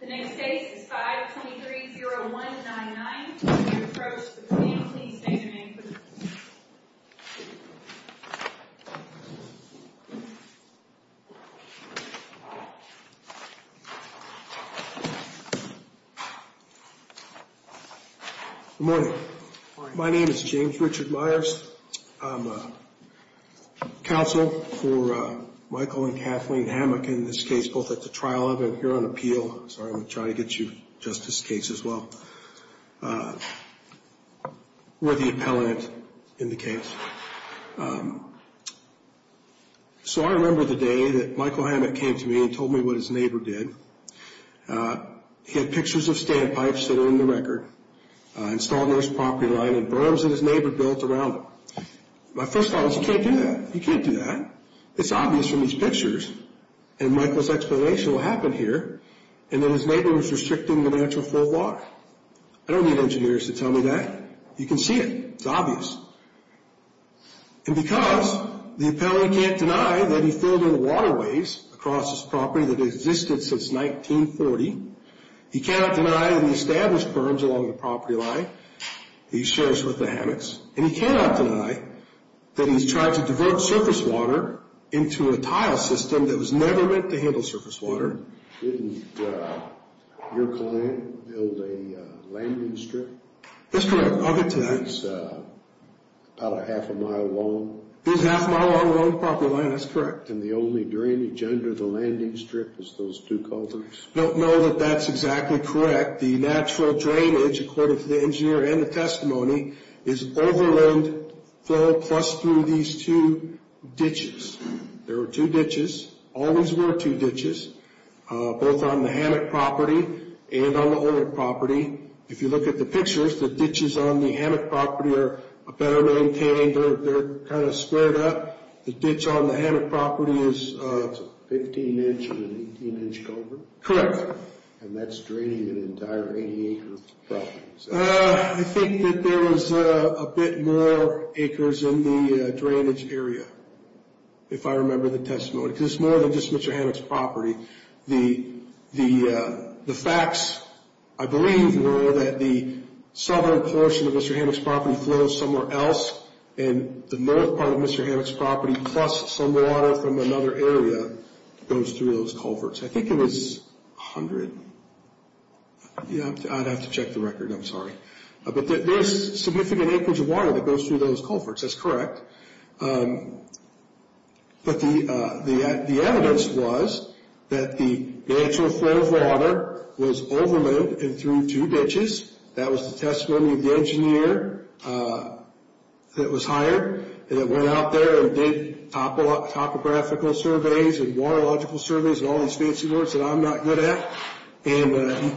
The next case is 523-0199. When you approach the podium, please state your name for the record. Good morning. My name is James Richard Myers. I'm a counsel for Michael and Kathleen Hammock in this case, both at the trial of and here on appeal. Sorry, I'm going to try to get you Justice's case as well. We're the appellant in the case. So I remember the day that Michael Hammock came to me and told me what his neighbor did. He had pictures of standpipes that are in the record. Installed on his property line and berms that his neighbor built around them. My first thought was, you can't do that. You can't do that. It's obvious from these pictures and Michael's explanation of what happened here and that his neighbor was restricting the natural flow of water. I don't need engineers to tell me that. You can see it. It's obvious. And because the appellant can't deny that he filled in waterways across his property that existed since 1940, he cannot deny that he established berms along the property line that he shares with the Hammocks and he cannot deny that he's tried to divert surface water into a tile system that was never meant to handle surface water. Didn't your client build a landing strip? That's correct. I'll get to that. It's about a half a mile long. It is a half a mile long along the property line. That's correct. And the only drainage under the landing strip is those two culverts? I don't know that that's exactly correct. The natural drainage, according to the engineer and the testimony, is overland flow plus through these two ditches. There were two ditches, always were two ditches, both on the Hammock property and on the old property. If you look at the pictures, the ditches on the Hammock property are better maintained. They're kind of squared up. The ditch on the Hammock property is a 15-inch or an 18-inch culvert? Correct. And that's draining an entire 80-acre property. I think that there was a bit more acres in the drainage area, if I remember the testimony, because it's more than just Mr. Hammock's property. The facts, I believe, were that the southern portion of Mr. Hammock's property flows somewhere else and the north part of Mr. Hammock's property plus some water from another area goes through those culverts. I think it was 100? I'd have to check the record. I'm sorry. But there's significant acres of water that goes through those culverts. That's correct. But the evidence was that the natural flow of water was overland and through two ditches. That was the testimony of the engineer that was hired, and it went out there and did topographical surveys and waterlogical surveys and all these fancy words that I'm not good at. He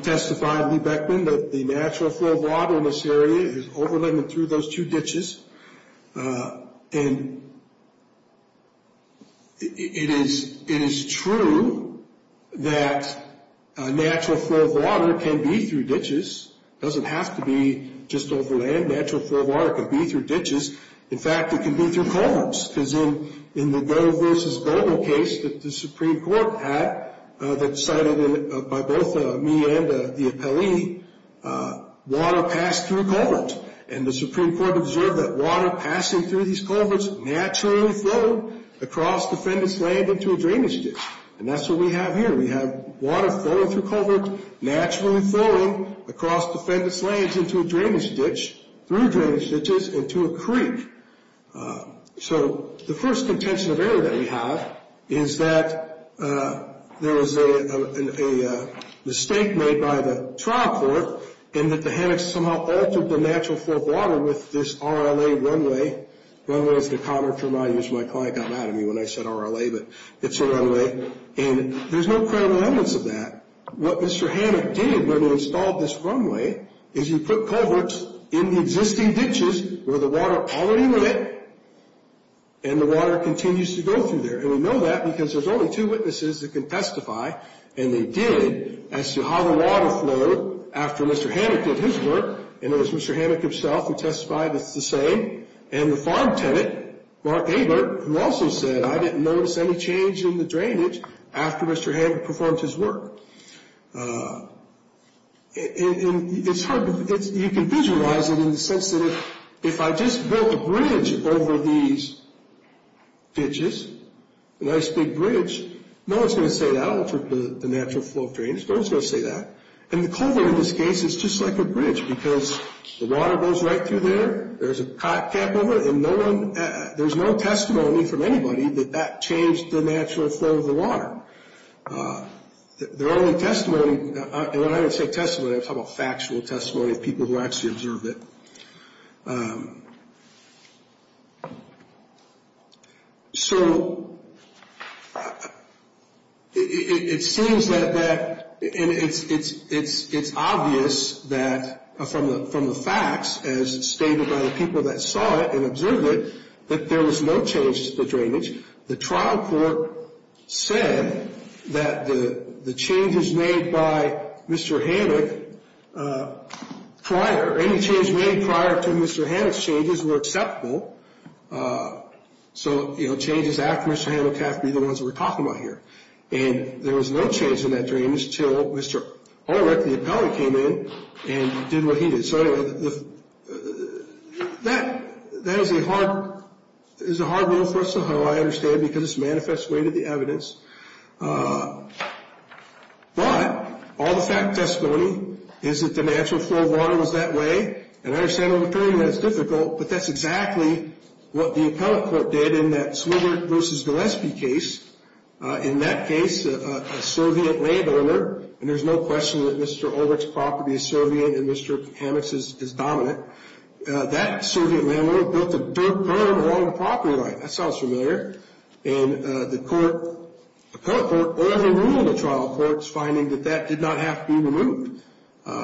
testified, Lee Beckman, that the natural flow of water in this area is overland and through those two ditches. And it is true that natural flow of water can be through ditches. It doesn't have to be just overland. Natural flow of water can be through ditches. In fact, it can be through culverts, because in the Doe v. Golden case that the Supreme Court had that cited by both me and the appellee, water passed through culverts. And the Supreme Court observed that water passing through these culverts naturally flowed across defendant's land into a drainage ditch. And that's what we have here. We have water flowing through culverts naturally flowing across defendant's lands into a drainage ditch, through drainage ditches into a creek. So the first contention of error that we have is that there was a mistake made by the trial court in that the hammocks somehow altered the natural flow of water with this RLA runway. Runway is the common term I use when my client got mad at me when I said RLA, but it's a runway. And there's no credible evidence of that. What Mr. Hammock did when he installed this runway is he put culverts in the existing ditches where the water already went and the water continues to go through there. And we know that because there's only two witnesses that can testify, and they did, as to how the water flowed after Mr. Hammock did his work. And it was Mr. Hammock himself who testified that it's the same. And the farm tenant, Mark Abert, who also said, I didn't notice any change in the drainage after Mr. Hammock performed his work. And it's hard, you can visualize it in the sense that if I just built a bridge over these ditches, a nice big bridge, no one's going to say that altered the natural flow of drainage. No one's going to say that. And the culvert in this case is just like a bridge because the water goes right through there, there's a pot cap over it, and there's no testimony from anybody that that changed the natural flow of the water. There are only testimony, and when I say testimony, I'm talking about factual testimony of people who actually observed it. So it seems that that, and it's obvious that from the facts, as stated by the people that saw it and observed it, that there was no change to the drainage. The trial court said that the changes made by Mr. Hammock prior, any change made prior to Mr. Hammock's changes were acceptable. So, you know, changes after Mr. Hammock have to be the ones that we're talking about here. And there was no change in that drainage until Mr. Ulrich, the appellate, came in and did what he did. So anyway, that is a hard rule for us to huddle, I understand, because it's a manifest way to the evidence. But all the fact testimony is that the natural flow of water was that way, and I understand over time that it's difficult, but that's exactly what the appellate court did in that Swigert v. Gillespie case. In that case, a Soviet landowner, and there's no question that Mr. Ulrich's property is Soviet and Mr. Hammock's is dominant, that Soviet landowner built a dirt perm along the property line. That sounds familiar. And the court, the appellate court, overruled the trial court's finding that that did not have to be removed.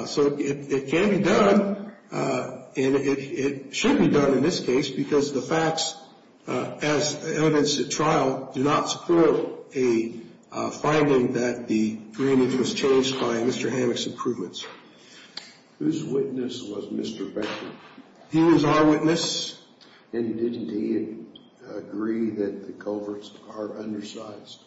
So it can be done, and it should be done in this case, because the facts, as evidence at trial, do not support a finding that the drainage was changed by Mr. Hammock's improvements. Whose witness was Mr. Beckman? He was our witness. And didn't he agree that the culverts are undersized?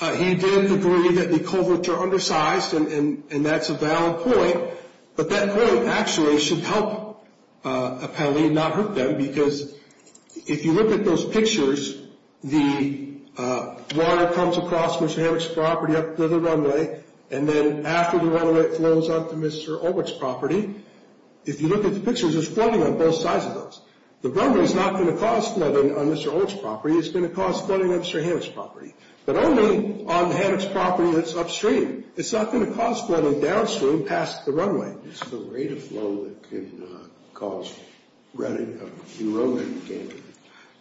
He did agree that the culverts are undersized, and that's a valid point. But that point actually should help appellee not hurt them, because if you look at those pictures, the water comes across Mr. Hammock's property up to the runway, and then after the runway, it flows onto Mr. Ulrich's property. If you look at the pictures, there's flooding on both sides of those. The runway is not going to cause flooding on Mr. Ulrich's property. It's going to cause flooding on Mr. Hammock's property. But only on Hammock's property that's upstream. It's not going to cause flooding downstream past the runway. Is the rate of flow that can cause erosion?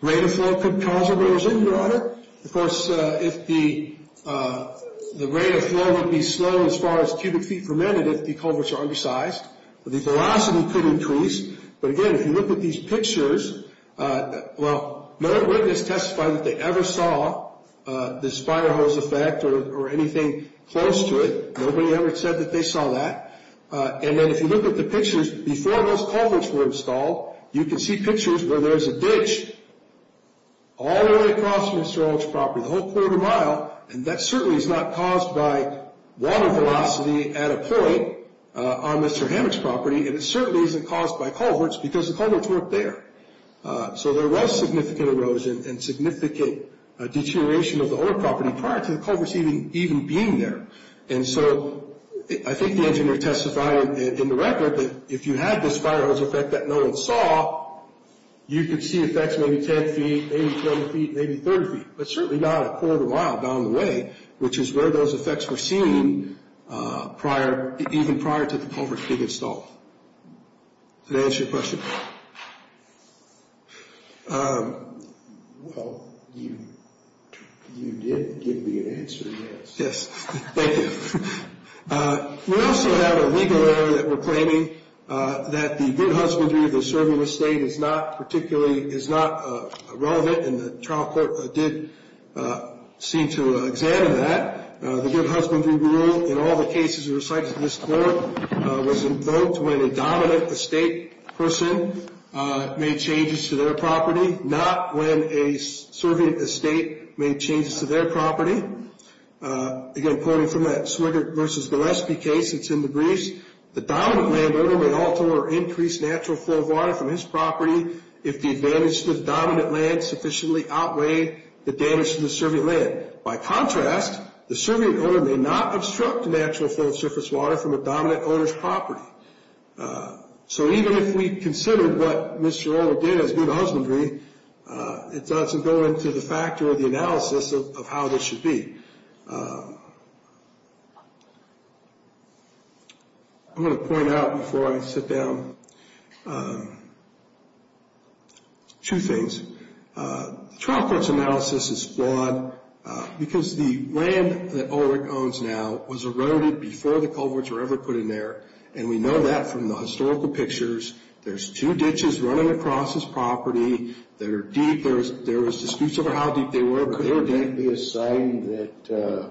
Rate of flow could cause erosion, Your Honor. Of course, if the rate of flow would be slow as far as cubic feet per minute if the culverts are undersized, the velocity could increase. But again, if you look at these pictures, well, no witness testified that they ever saw this fire hose effect or anything close to it. Nobody ever said that they saw that. And then if you look at the pictures before those culverts were installed, you can see pictures where there's a ditch all the way across Mr. Ulrich's property, the whole quarter mile, and that certainly is not caused by water velocity at a point on Mr. Hammock's property, and it certainly isn't caused by culverts because the culverts weren't there. So there was significant erosion and significant deterioration of the old property prior to the culverts even being there. And so I think the engineer testified in the record that if you had this fire hose effect that no one saw, you could see effects maybe 10 feet, maybe 20 feet, maybe 30 feet, but certainly not a quarter mile down the way, which is where those effects were seen even prior to the culverts being installed. Did that answer your question? Well, you did give me an answer, yes. Yes, thank you. We also have a legal error that we're claiming that the good husbandry of the serving estate is not relevant, and the trial court did seem to examine that. The good husbandry rule in all the cases recited in this court was invoked when a dominant estate person made changes to their property, not when a serving estate made changes to their property. Again, quoting from that Swigert v. Gillespie case that's in the briefs, the dominant landowner may alter or increase natural flow of water from his property if the advantage to the dominant land sufficiently outweighed the damage to the serving land. By contrast, the serving owner may not obstruct natural flow of surface water from a dominant owner's property. So even if we consider what Mr. Orr did as good husbandry, it doesn't go into the factor of the analysis of how this should be. I'm going to point out before I sit down two things. The trial court's analysis is flawed because the land that Ulrich owns now was eroded before the culverts were ever put in there, and we know that from the historical pictures. There's two ditches running across his property that are deep. There was disputes over how deep they were, but they were deep. Could it be a sign that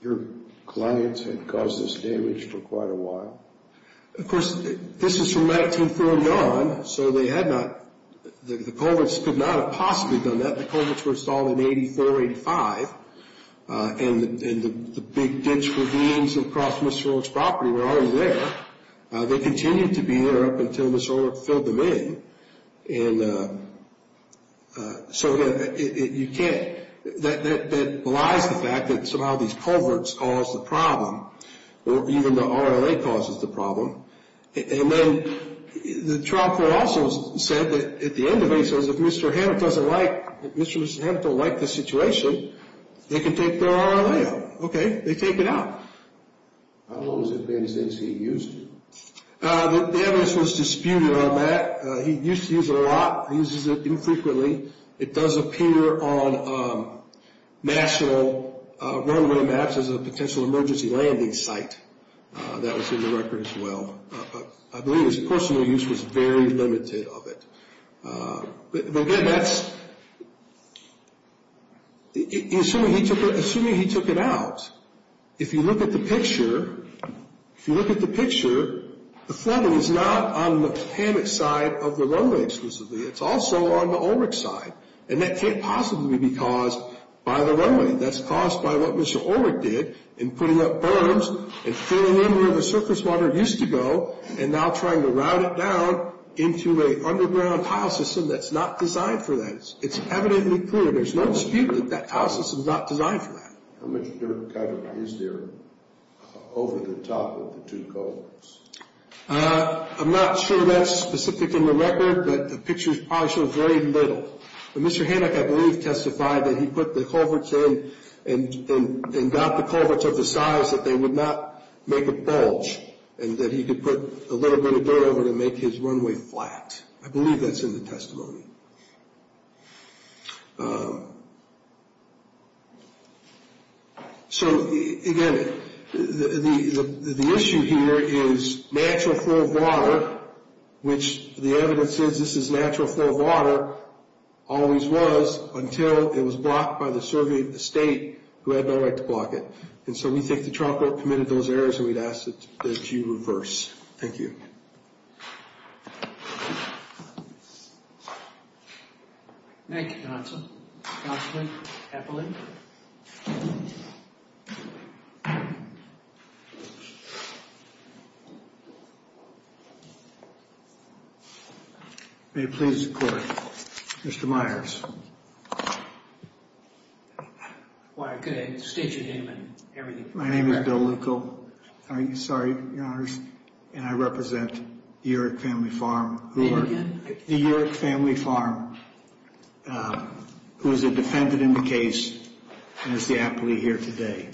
your clients had caused this damage for quite a while? Of course, this is from 1949, so the culverts could not have possibly done that. The culverts were installed in 84, 85, and the big ditch ravines across Mr. Orr's property were already there. They continued to be there up until Mr. Orr filled them in. So you can't – that belies the fact that somehow these culverts caused the problem, or even the RLA causes the problem. And then the trial court also said that at the end of it, it says if Mr. Hammett doesn't like – if Mr. or Mrs. Hammett don't like the situation, they can take their RLA out. Okay, they take it out. How long has it been since he used it? The evidence was disputed on that. He used to use it a lot. He uses it infrequently. It does appear on national runway maps as a potential emergency landing site. That was in the record as well. I believe his personal use was very limited of it. But again, that's – assuming he took it out, if you look at the picture, if you look at the picture, the flooding is not on the Hammett side of the runway exclusively. It's also on the Ulrich side. And that can't possibly be caused by the runway. That's caused by what Mr. Ulrich did in putting up berms and filling in where the surface water used to go and now trying to route it down into an underground tile system that's not designed for that. It's evidently clear. There's no dispute that that tile system is not designed for that. How much dirt cover is there over the top of the two culverts? I'm not sure that's specific in the record, but the picture probably shows very little. But Mr. Hanek, I believe, testified that he put the culverts in and got the culverts of the size that they would not make a bulge and that he could put a little bit of dirt over to make his runway flat. I believe that's in the testimony. So, again, the issue here is natural flow of water, which the evidence says this is natural flow of water, always was until it was blocked by the survey of the state who had no right to block it. And so we think the trial court committed those errors and we'd ask that you reverse. Thank you. Thank you, counsel. Counsel, Epelin. May it please the court. Mr. Myers. Well, I could state your name and everything. My name is Bill Leuco. I'm sorry, Your Honors, and I represent the Urick Family Farm. Say it again. I represent the Urick Family Farm, who is a defendant in the case, and is the appellee here today.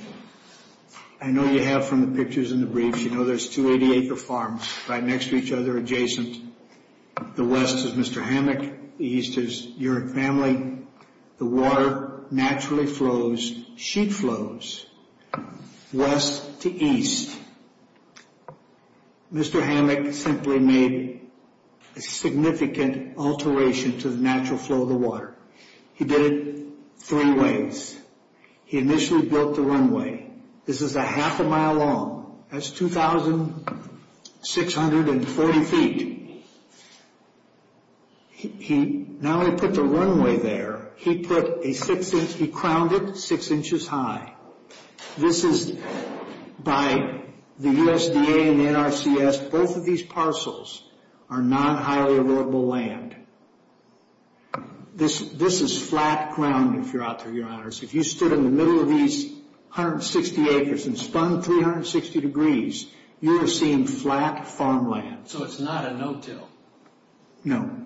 I know you have from the pictures in the briefs, you know there's two 80-acre farms right next to each other adjacent. The west is Mr. Hanek, the east is Urick Family. The water naturally flows, sheet flows, west to east. Mr. Hanek simply made a significant alteration to the natural flow of the water. He did it three ways. He initially built the runway. This is a half a mile long. That's 2,640 feet. Now he put the runway there. He crowned it six inches high. This is by the USDA and the NRCS. Both of these parcels are non-highly erodible land. This is flat ground, if you're out there, Your Honors. If you stood in the middle of these 160 acres and spun 360 degrees, you are seeing flat farmland. So it's not a no-till. No.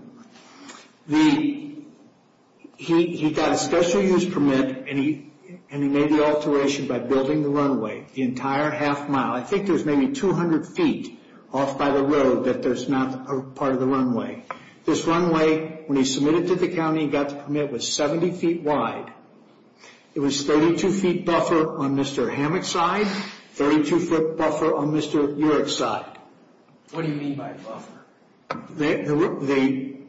He got a special use permit, and he made the alteration by building the runway the entire half mile. I think there's maybe 200 feet off by the road that there's not a part of the runway. This runway, when he submitted to the county, he got the permit, was 70 feet wide. It was 32 feet buffer on Mr. Hanek's side, 32 foot buffer on Mr. Urick's side. What do you mean by buffer? The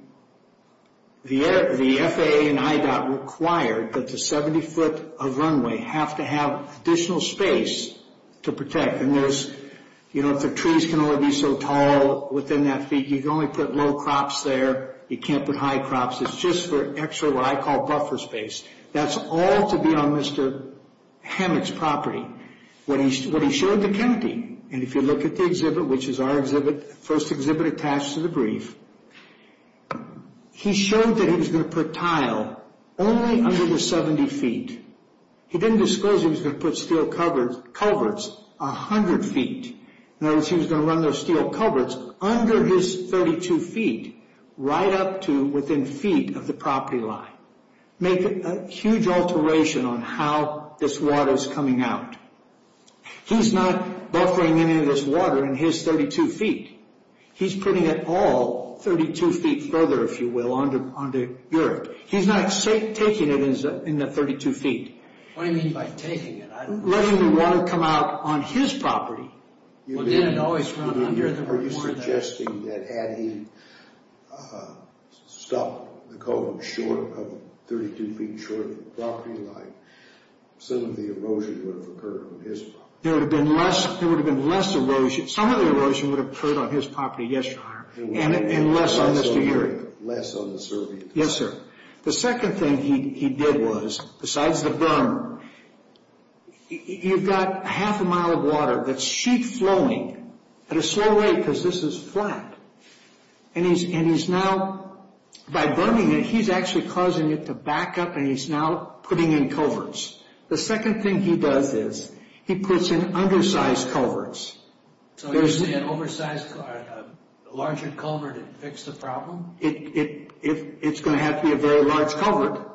FAA and IDOT required that the 70 foot of runway have to have additional space to protect. If the trees can only be so tall within that feet, you can only put low crops there. You can't put high crops. It's just for extra, what I call, buffer space. That's all to be on Mr. Hanek's property. When he showed the county, and if you look at the exhibit, which is our first exhibit attached to the brief, he showed that he was going to put tile only under the 70 feet. He didn't disclose he was going to put steel culverts 100 feet. In other words, he was going to run those steel culverts under his 32 feet, right up to within feet of the property line. Make a huge alteration on how this water is coming out. He's not buffering any of this water in his 32 feet. He's putting it all 32 feet further, if you will, onto Urick. He's not taking it in the 32 feet. What do you mean by taking it? Letting the water come out on his property. Are you suggesting that had he stopped the code of 32 feet short of the property line, some of the erosion would have occurred on his property? There would have been less erosion. Some of the erosion would have occurred on his property, yes, Your Honor, and less on Mr. Urick. Less on the survey. Yes, sir. The second thing he did was, besides the berm, you've got half a mile of water that's sheet flowing at a slow rate because this is flat. And he's now, by burning it, he's actually causing it to back up and he's now putting in culverts. The second thing he does is, he puts in undersized culverts. So you're saying an oversized larger culvert would fix the problem? It's going to have to be a very large culvert,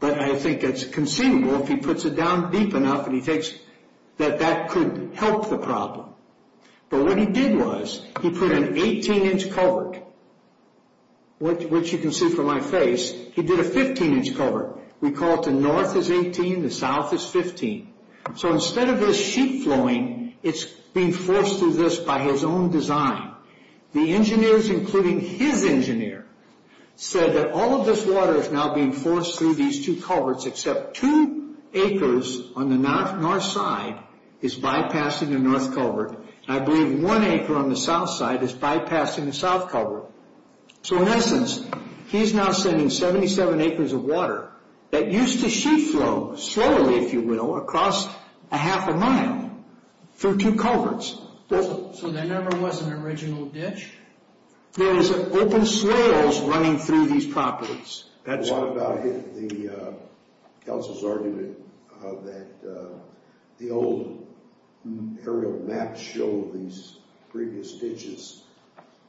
but I think it's conceivable if he puts it down deep enough that that could help the problem. But what he did was, he put an 18-inch culvert, which you can see from my face. He did a 15-inch culvert. We call it the north is 18, the south is 15. So instead of this sheet flowing, it's being forced through this by his own design. The engineers, including his engineer, said that all of this water is now being forced through these two culverts except two acres on the north side is bypassing the north culvert, and I believe one acre on the south side is bypassing the south culvert. So in essence, he's now sending 77 acres of water that used to sheet flow slowly, if you will, across a half a mile through two culverts. So there never was an original ditch? There is open swales running through these properties. What about the council's argument that the old aerial maps show these previous ditches?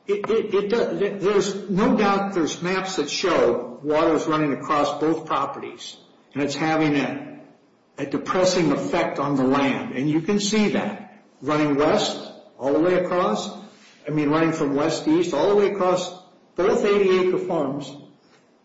There's no doubt there's maps that show water is running across both properties, and it's having a depressing effect on the land, and you can see that running west all the way across. I mean, running from west-east all the way across both 80-acre farms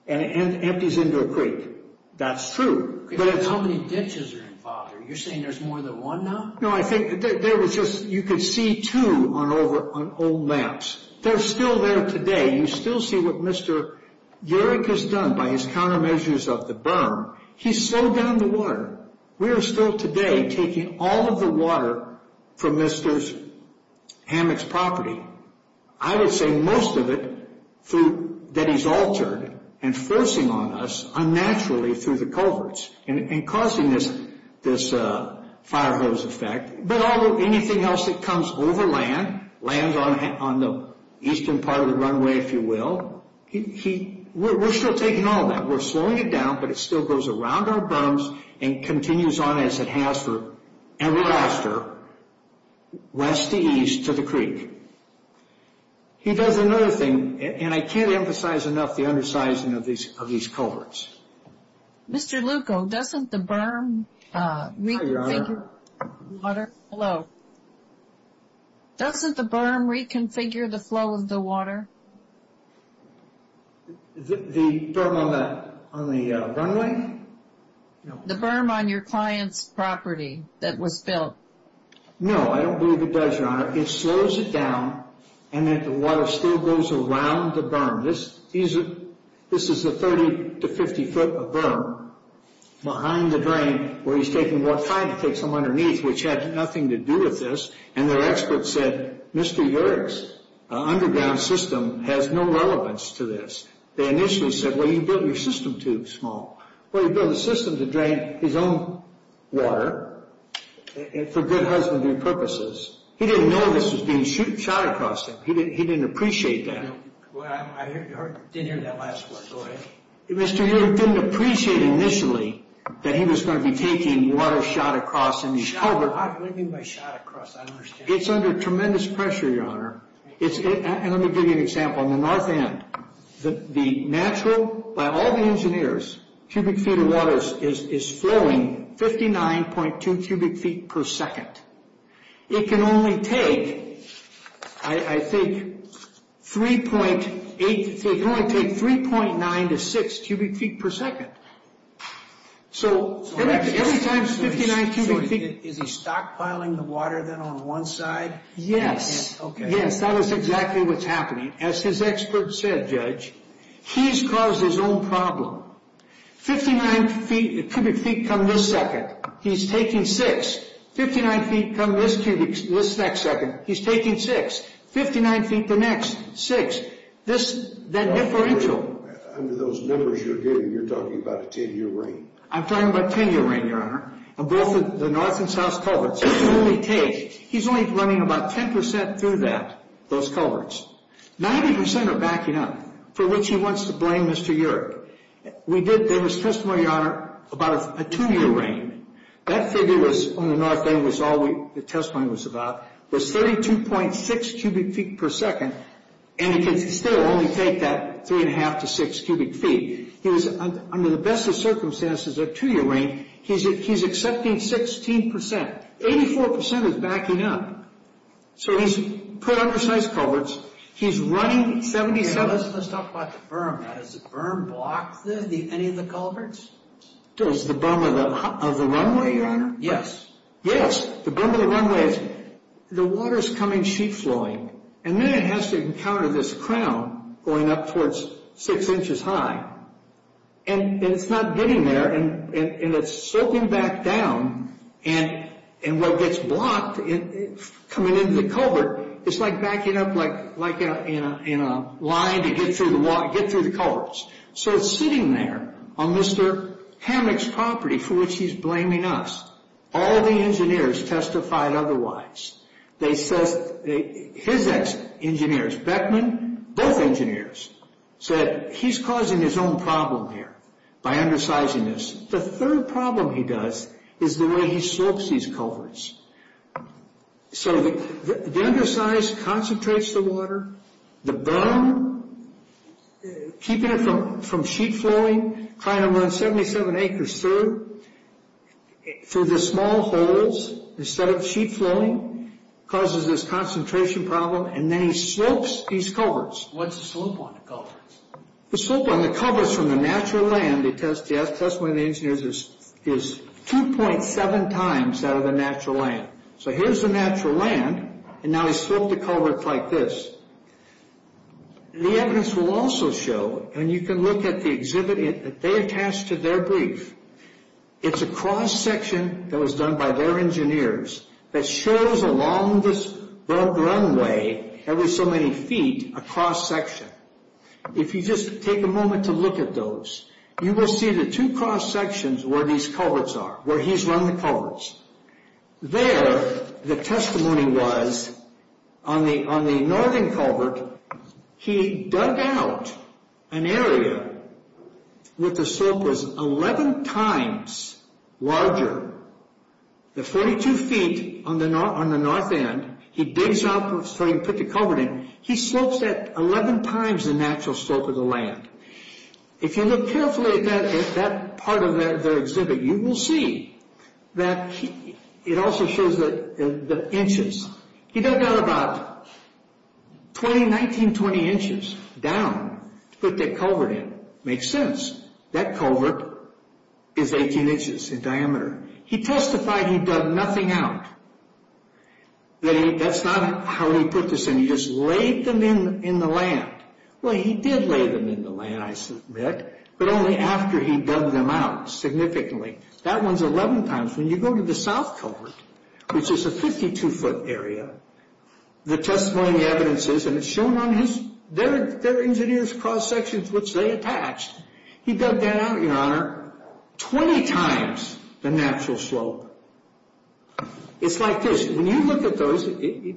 and empties into a creek. That's true. How many ditches are involved here? You're saying there's more than one now? No, I think there was just, you could see two on old maps. They're still there today. You still see what Mr. Yerrick has done by his countermeasures of the berm. He slowed down the water. We are still today taking all of the water from Mr. Hammock's property. I would say most of it that he's altered and forcing on us unnaturally through the culverts and causing this fire hose effect. But anything else that comes over land, lands on the eastern part of the runway, if you will, we're still taking all of that. We're slowing it down, but it still goes around our berms and continues on as it has for ever after west to east to the creek. He does another thing, and I can't emphasize enough the undersizing of these culverts. Mr. Lucco, doesn't the berm reconfigure the flow of the water? The berm on the runway? The berm on your client's property that was built. No, I don't believe it does, Your Honor. It slows it down and the water still goes around the berm. This is a 30 to 50 foot of berm behind the drain where he's trying to take some underneath, which had nothing to do with this. And their expert said, Mr. Yerrick's underground system has no relevance to this. They initially said, well, you built your system too small. Well, he built a system to drain his own water for good husbandry purposes. He didn't know this was being shot across him. He didn't appreciate that. I didn't hear that last part. Go ahead. Mr. Yerrick didn't appreciate initially that he was going to be taking water shot across in these culverts. It's under tremendous pressure, Your Honor. And let me give you an example. On the north end, the natural, by all the engineers, cubic feet of water is flowing 59.2 cubic feet per second. It can only take, I think, 3.8, it can only take 3.9 to 6 cubic feet per second. So every time 59 cubic feet... So is he stockpiling the water then on one side? Yes. Okay. Yes, that is exactly what's happening. As his expert said, Judge, he's caused his own problem. 59 cubic feet come this second. He's taking 6. 59 feet come this next second. He's taking 6. 59 feet the next, 6. That differential... Under those numbers you're giving, you're talking about a 10-year reign. I'm talking about a 10-year reign, Your Honor. And both the north and south culverts, it can only take... He's only running about 10% through that, those culverts. 90% are backing up, for which he wants to blame Mr. Yerrick. We did, there was testimony, Your Honor, about a 2-year reign. That figure was, on the north end, was all the testimony was about, was 32.6 cubic feet per second. And it can still only take that 3.5 to 6 cubic feet. He was, under the best of circumstances, a 2-year reign. He's accepting 16%. 84% is backing up. So he's put up precise culverts. He's running 77... Let's talk about the berm. Does the berm block any of the culverts? Does the berm of the runway, Your Honor? Yes. Yes. The berm of the runway is... And then it has to encounter this crown going up towards 6 inches high. And it's not getting there, and it's sloping back down. And what gets blocked coming into the culvert is like backing up like in a line to get through the culverts. So it's sitting there on Mr. Hammock's property, for which he's blaming us. All the engineers testified otherwise. They said... His ex-engineers, Beckman, both engineers, said he's causing his own problem here by undersizing this. The third problem he does is the way he slopes these culverts. So the undersize concentrates the water. The berm, keeping it from sheet flowing, trying to run 77 acres through. Through the small holes, instead of sheet flowing, causes this concentration problem. And then he slopes these culverts. What's the slope on the culverts? The slope on the culverts from the natural land, the testimony of the engineers, is 2.7 times that of the natural land. So here's the natural land, and now he's sloped the culverts like this. The evidence will also show, and you can look at the exhibit that they attached to their brief, it's a cross-section that was done by their engineers that shows along this runway, every so many feet, a cross-section. If you just take a moment to look at those, you will see the two cross-sections where these culverts are, where he's run the culverts. There, the testimony was, on the northern culvert, he dug out an area where the slope was 11 times larger. The 42 feet on the north end, he digs out, so he can put the culvert in, he slopes that 11 times the natural slope of the land. If you look carefully at that part of their exhibit, you will see that it also shows the inches. He dug out about 20, 19, 20 inches down to put that culvert in. It makes sense. That culvert is 18 inches in diameter. He testified he dug nothing out. That's not how he put this in. He just laid them in the land. Well, he did lay them in the land, I submit, but only after he dug them out significantly. That one's 11 times. When you go to the south culvert, which is a 52-foot area, the testimony evidence is, and it's shown on their engineers' cross-sections, which they attached, he dug that out, Your Honor, 20 times the natural slope. It's like this. When you look at those, and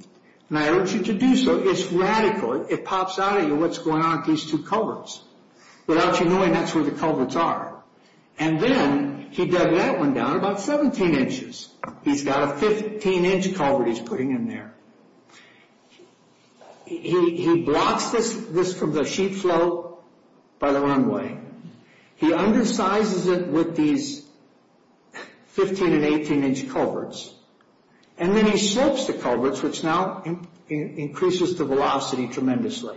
I urge you to do so, it's radical. It pops out at you what's going on with these two culverts. Without you knowing, that's where the culverts are. Then he dug that one down about 17 inches. He's got a 15-inch culvert he's putting in there. He blocks this from the sheet flow by the runway. He undersizes it with these 15- and 18-inch culverts. Then he slopes the culverts, which now increases the velocity tremendously.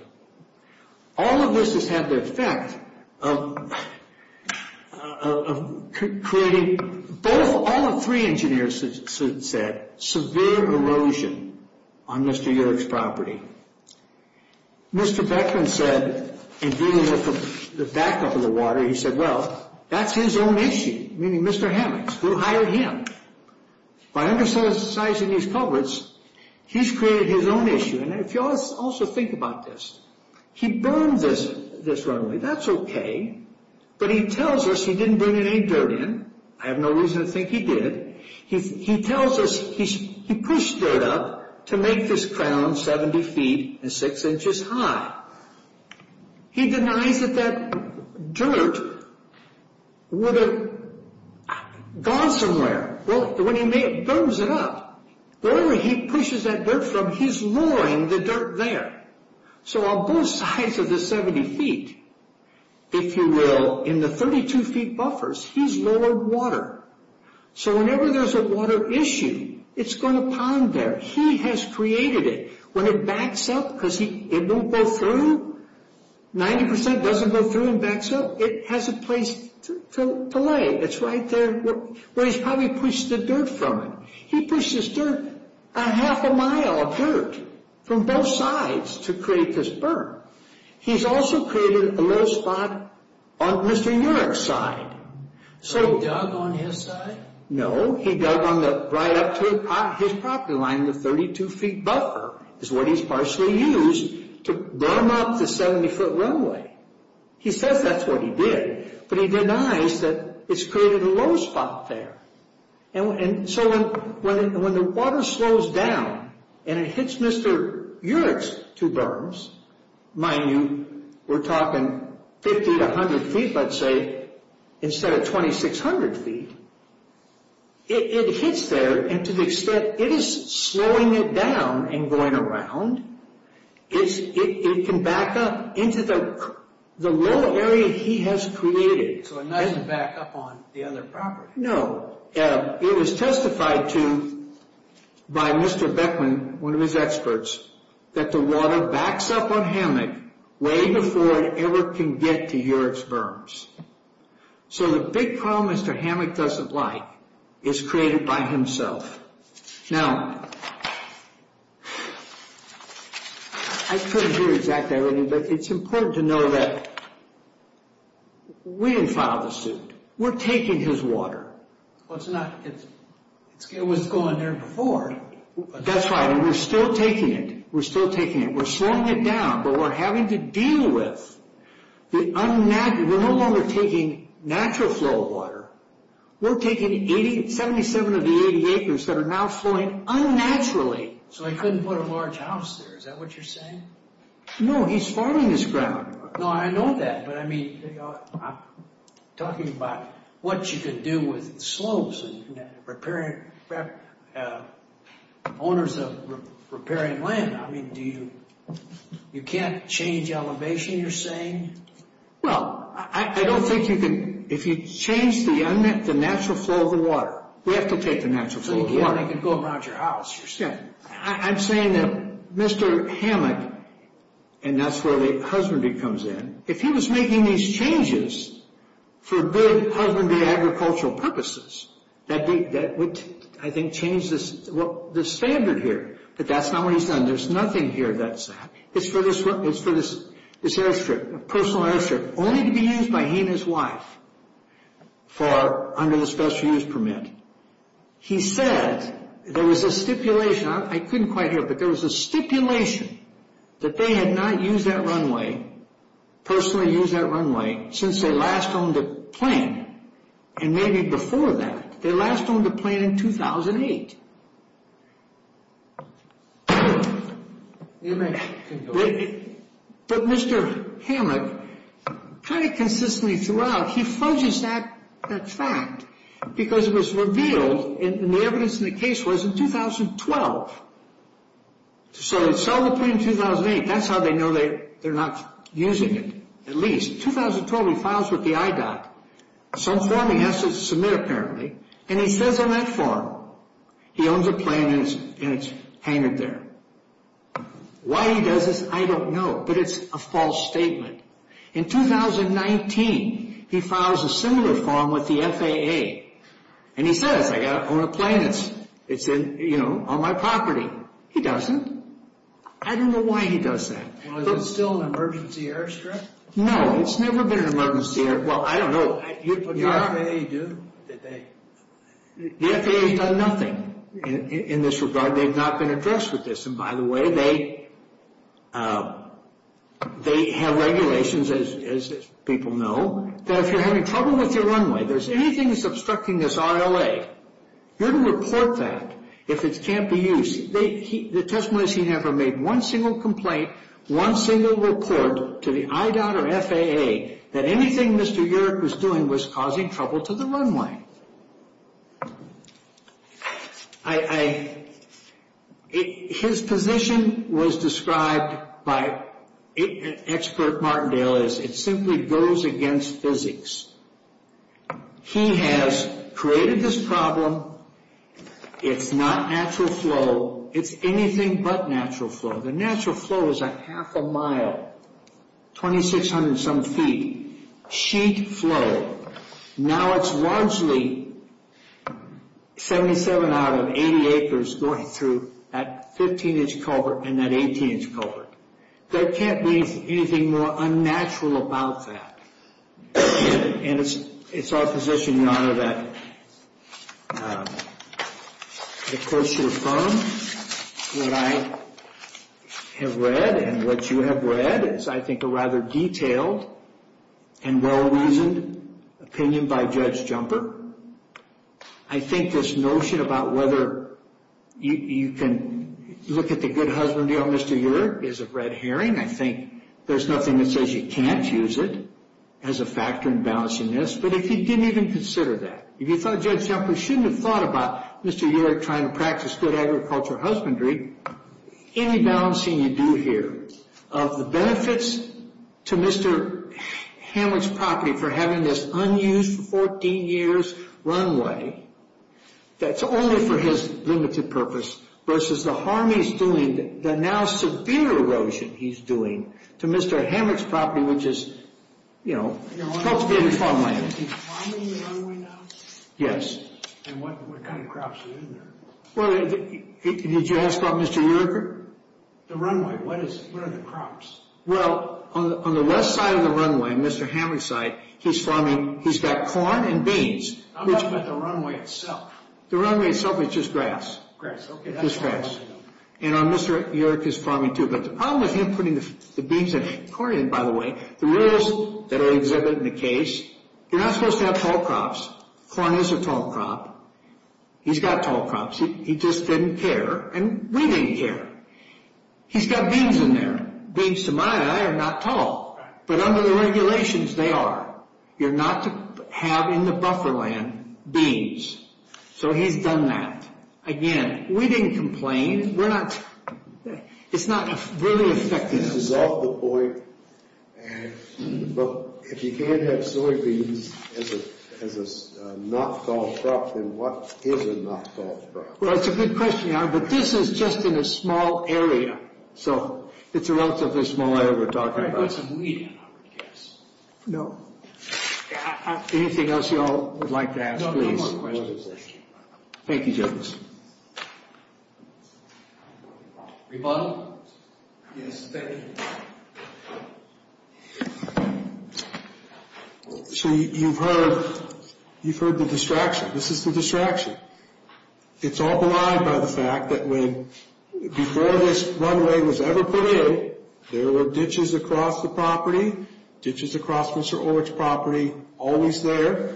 All of this has had the effect of creating, all of three engineers said, severe erosion on Mr. York's property. Mr. Beckman said, in dealing with the backup of the water, he said, Well, that's his own issue, meaning Mr. Hammock's. We'll hire him. By undersizing these culverts, he's created his own issue. If you also think about this, he burned this runway. That's okay, but he tells us he didn't bring any dirt in. I have no reason to think he did. He tells us he pushed dirt up to make this crown 70 feet and 6 inches high. He denies that that dirt would have gone somewhere. When he burns it up, wherever he pushes that dirt from, he's lowering the dirt there. On both sides of the 70 feet, if you will, in the 32-feet buffers, he's lowered water. Whenever there's a water issue, it's going to pond there. He has created it. When it backs up because it won't go through, 90 percent doesn't go through and backs up. It has a place to lay. It's right there where he's probably pushed the dirt from it. He pushed this dirt a half a mile of dirt from both sides to create this burn. He's also created a little spot on Mr. York's side. So he dug on his side? No, he dug right up to his property line. The 32-feet buffer is what he's partially used to burn up the 70-foot runway. He says that's what he did, but he denies that it's created a low spot there. So when the water slows down and it hits Mr. York's two berms, mind you, we're talking 50 to 100 feet, let's say, instead of 2,600 feet, it hits there and to the extent it is slowing it down and going around, it can back up into the low area he has created. So it doesn't back up on the other property? No. It was testified to by Mr. Beckman, one of his experts, that the water backs up on Hammock way before it ever can get to York's berms. So the big problem Mr. Hammock doesn't like is created by himself. Now, I couldn't hear exactly what he said, but it's important to know that we didn't file the suit. We're taking his water. It was going there before. That's right, and we're still taking it. We're still taking it. We're slowing it down, but we're having to deal with the unnatural. We're no longer taking natural flow of water. We're taking 77 of the 80 acres that are now flowing unnaturally. So he couldn't put a large house there. Is that what you're saying? No, he's farming his ground. No, I know that, but I'm talking about what you can do with slopes and owners of riparian land. I mean, you can't change elevation, you're saying? Well, I don't think you can. If you change the unnatural flow of the water, we have to take the natural flow of the water. So you can't make it go around your house. I'm saying that Mr. Hammack, and that's where the husbandry comes in, if he was making these changes for good husbandry agricultural purposes, that would, I think, change the standard here. But that's not what he's done. There's nothing here that's for this airstrip, a personal airstrip, only to be used by he and his wife under the special use permit. He said there was a stipulation. I couldn't quite hear it, but there was a stipulation that they had not used that runway, personally used that runway, since they last owned a plane, and maybe before that. They last owned a plane in 2008. But Mr. Hammack kind of consistently throughout, he fudges that fact because it was revealed, and the evidence in the case was in 2012. So he sold the plane in 2008. That's how they know they're not using it, at least. In 2012, he files with the IDOC. Some form he has to submit, apparently, and he says on that form, he owns a plane and it's hanged there. Why he does this, I don't know, but it's a false statement. In 2019, he files a similar form with the FAA, and he says, I own a plane, it's on my property. He doesn't. I don't know why he does that. Well, is it still an emergency airstrip? No, it's never been an emergency airstrip. Well, I don't know. But the FAA do? The FAA has done nothing in this regard. They've not been addressed with this. And, by the way, they have regulations, as people know, that if you're having trouble with your runway, if there's anything that's obstructing this RLA, you're to report that if it can't be used. The testimony is he never made one single complaint, one single report to the IDOC or FAA, that anything Mr. Yerrick was doing was causing trouble to the runway. Okay. His position was described by expert Martindale as it simply goes against physics. He has created this problem. It's not natural flow. It's anything but natural flow. The natural flow is a half a mile, 2,600-some feet, sheet flow. Now it's largely 77 out of 80 acres going through that 15-inch culvert and that 18-inch culvert. There can't be anything more unnatural about that. And it's our position, Your Honor, that the courts should affirm what I have read and what you have read is, I think, a rather detailed and well-reasoned opinion by Judge Jumper. I think this notion about whether you can look at the good husbandry of Mr. Yerrick is a red herring. I think there's nothing that says you can't use it as a factor in balancing this. But if you didn't even consider that, if you thought Judge Jumper shouldn't have thought about Mr. Yerrick trying to practice good agricultural husbandry, any balancing you do here of the benefits to Mr. Hamrick's property for having this unused 14-years runway that's only for his limited purpose versus the harm he's doing, the now severe erosion he's doing to Mr. Hamrick's property, which is cultivated farmland. Is he farming the runway now? Yes. And what kind of crops are in there? Well, did you ask about Mr. Yerrick? The runway. What are the crops? Well, on the left side of the runway, Mr. Hamrick's side, he's got corn and beans. I'm talking about the runway itself. The runway itself is just grass. Grass. Okay. Just grass. And Mr. Yerrick is farming, too. But the problem with him putting the beans and corn in, by the way, the rules that are exhibited in the case, you're not supposed to have tall crops. Corn is a tall crop. He's got tall crops. He just didn't care, and we didn't care. He's got beans in there. Beans, to my eye, are not tall. But under the regulations, they are. You're not to have in the buffer land beans. So he's done that. Again, we didn't complain. It's not really affecting us. This is off the point. Well, if you can't have soybeans as a not-tall crop, then what is a not-tall crop? Well, that's a good question. But this is just in a small area. So it's a relatively small area we're talking about. Can I put some wheat in it, I guess? No. Anything else you all would like to ask, please? No, no more questions. Thank you, gentlemen. Rebuttal? Yes, thank you. So you've heard the distraction. This is the distraction. It's all belied by the fact that before this runway was ever put in, there were ditches across the property, ditches across Mr. Orch's property, always there.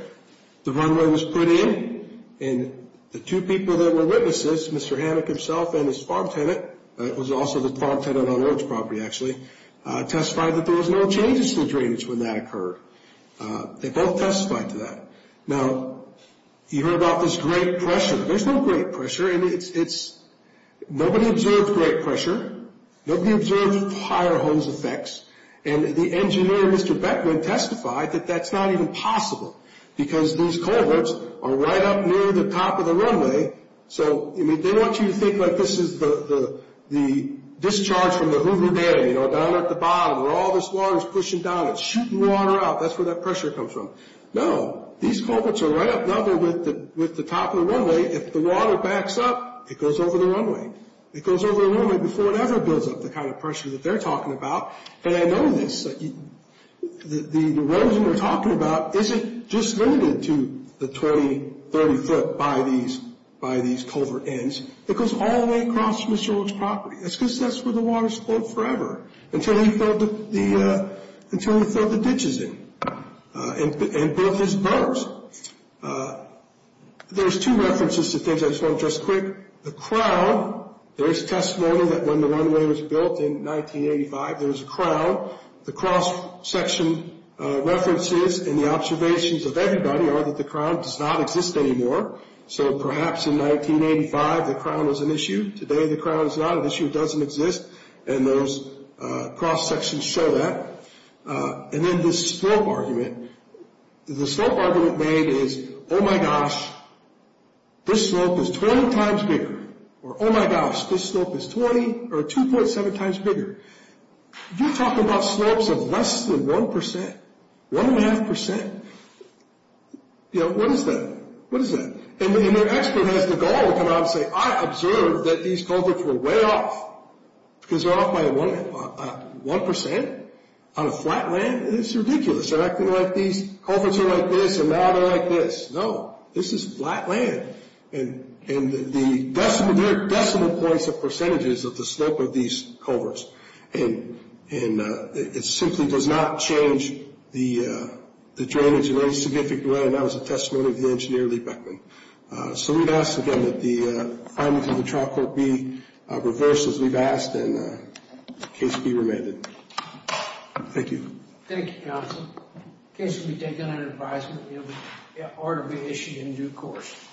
The runway was put in, and the two people that were witnesses, Mr. Hammack himself and his farm tenant, who was also the farm tenant on Orch's property, actually, testified that there was no changes to the drainage when that occurred. They both testified to that. Now, you heard about this great pressure. There's no great pressure. Nobody observed great pressure. Nobody observed fire hose effects. And the engineer, Mr. Beckman, testified that that's not even possible because these cohorts are right up near the top of the runway. So they want you to think like this is the discharge from the Hoover Dam, you know, down at the bottom where all this water is pushing down. It's shooting water out. That's where that pressure comes from. No. These cohorts are right up, now they're with the top of the runway. If the water backs up, it goes over the runway. It goes over the runway before it ever builds up, the kind of pressure that they're talking about. And I know this. The roads that we're talking about isn't just limited to the 20, 30 foot by these culvert ends. It goes all the way across Mr. Orch's property. That's because that's where the water's flowed forever, until he filled the ditches in and built his boats. There's two references to things I just want to address quick. The crowd, there's testimony that when the runway was built in 1985, there was a crowd. The cross-section references and the observations of everybody are that the crowd does not exist anymore. So perhaps in 1985 the crowd was an issue. Today the crowd is not an issue. It doesn't exist. And those cross-sections show that. And then this slope argument. The slope argument made is, oh, my gosh, this slope is 20 times bigger. Or, oh, my gosh, this slope is 20 or 2.7 times bigger. You're talking about slopes of less than 1%, 1.5%. You know, what is that? What is that? And the expert has the gall to come out and say, I observed that these culverts were way off. Because they're off by 1% on a flat land? It's ridiculous. They're acting like these culverts are like this, and now they're like this. No. This is flat land. And there are decimal points of percentages of the slope of these culverts. And it simply does not change the drainage in any significant way. And that was a testimony of the engineer, Lee Beckman. So we'd ask, again, that the findings of the trial court be reversed, as we've asked, and the case be remanded. Thank you. Thank you, counsel. The case will be taken under advisement, and the order will be issued in due course.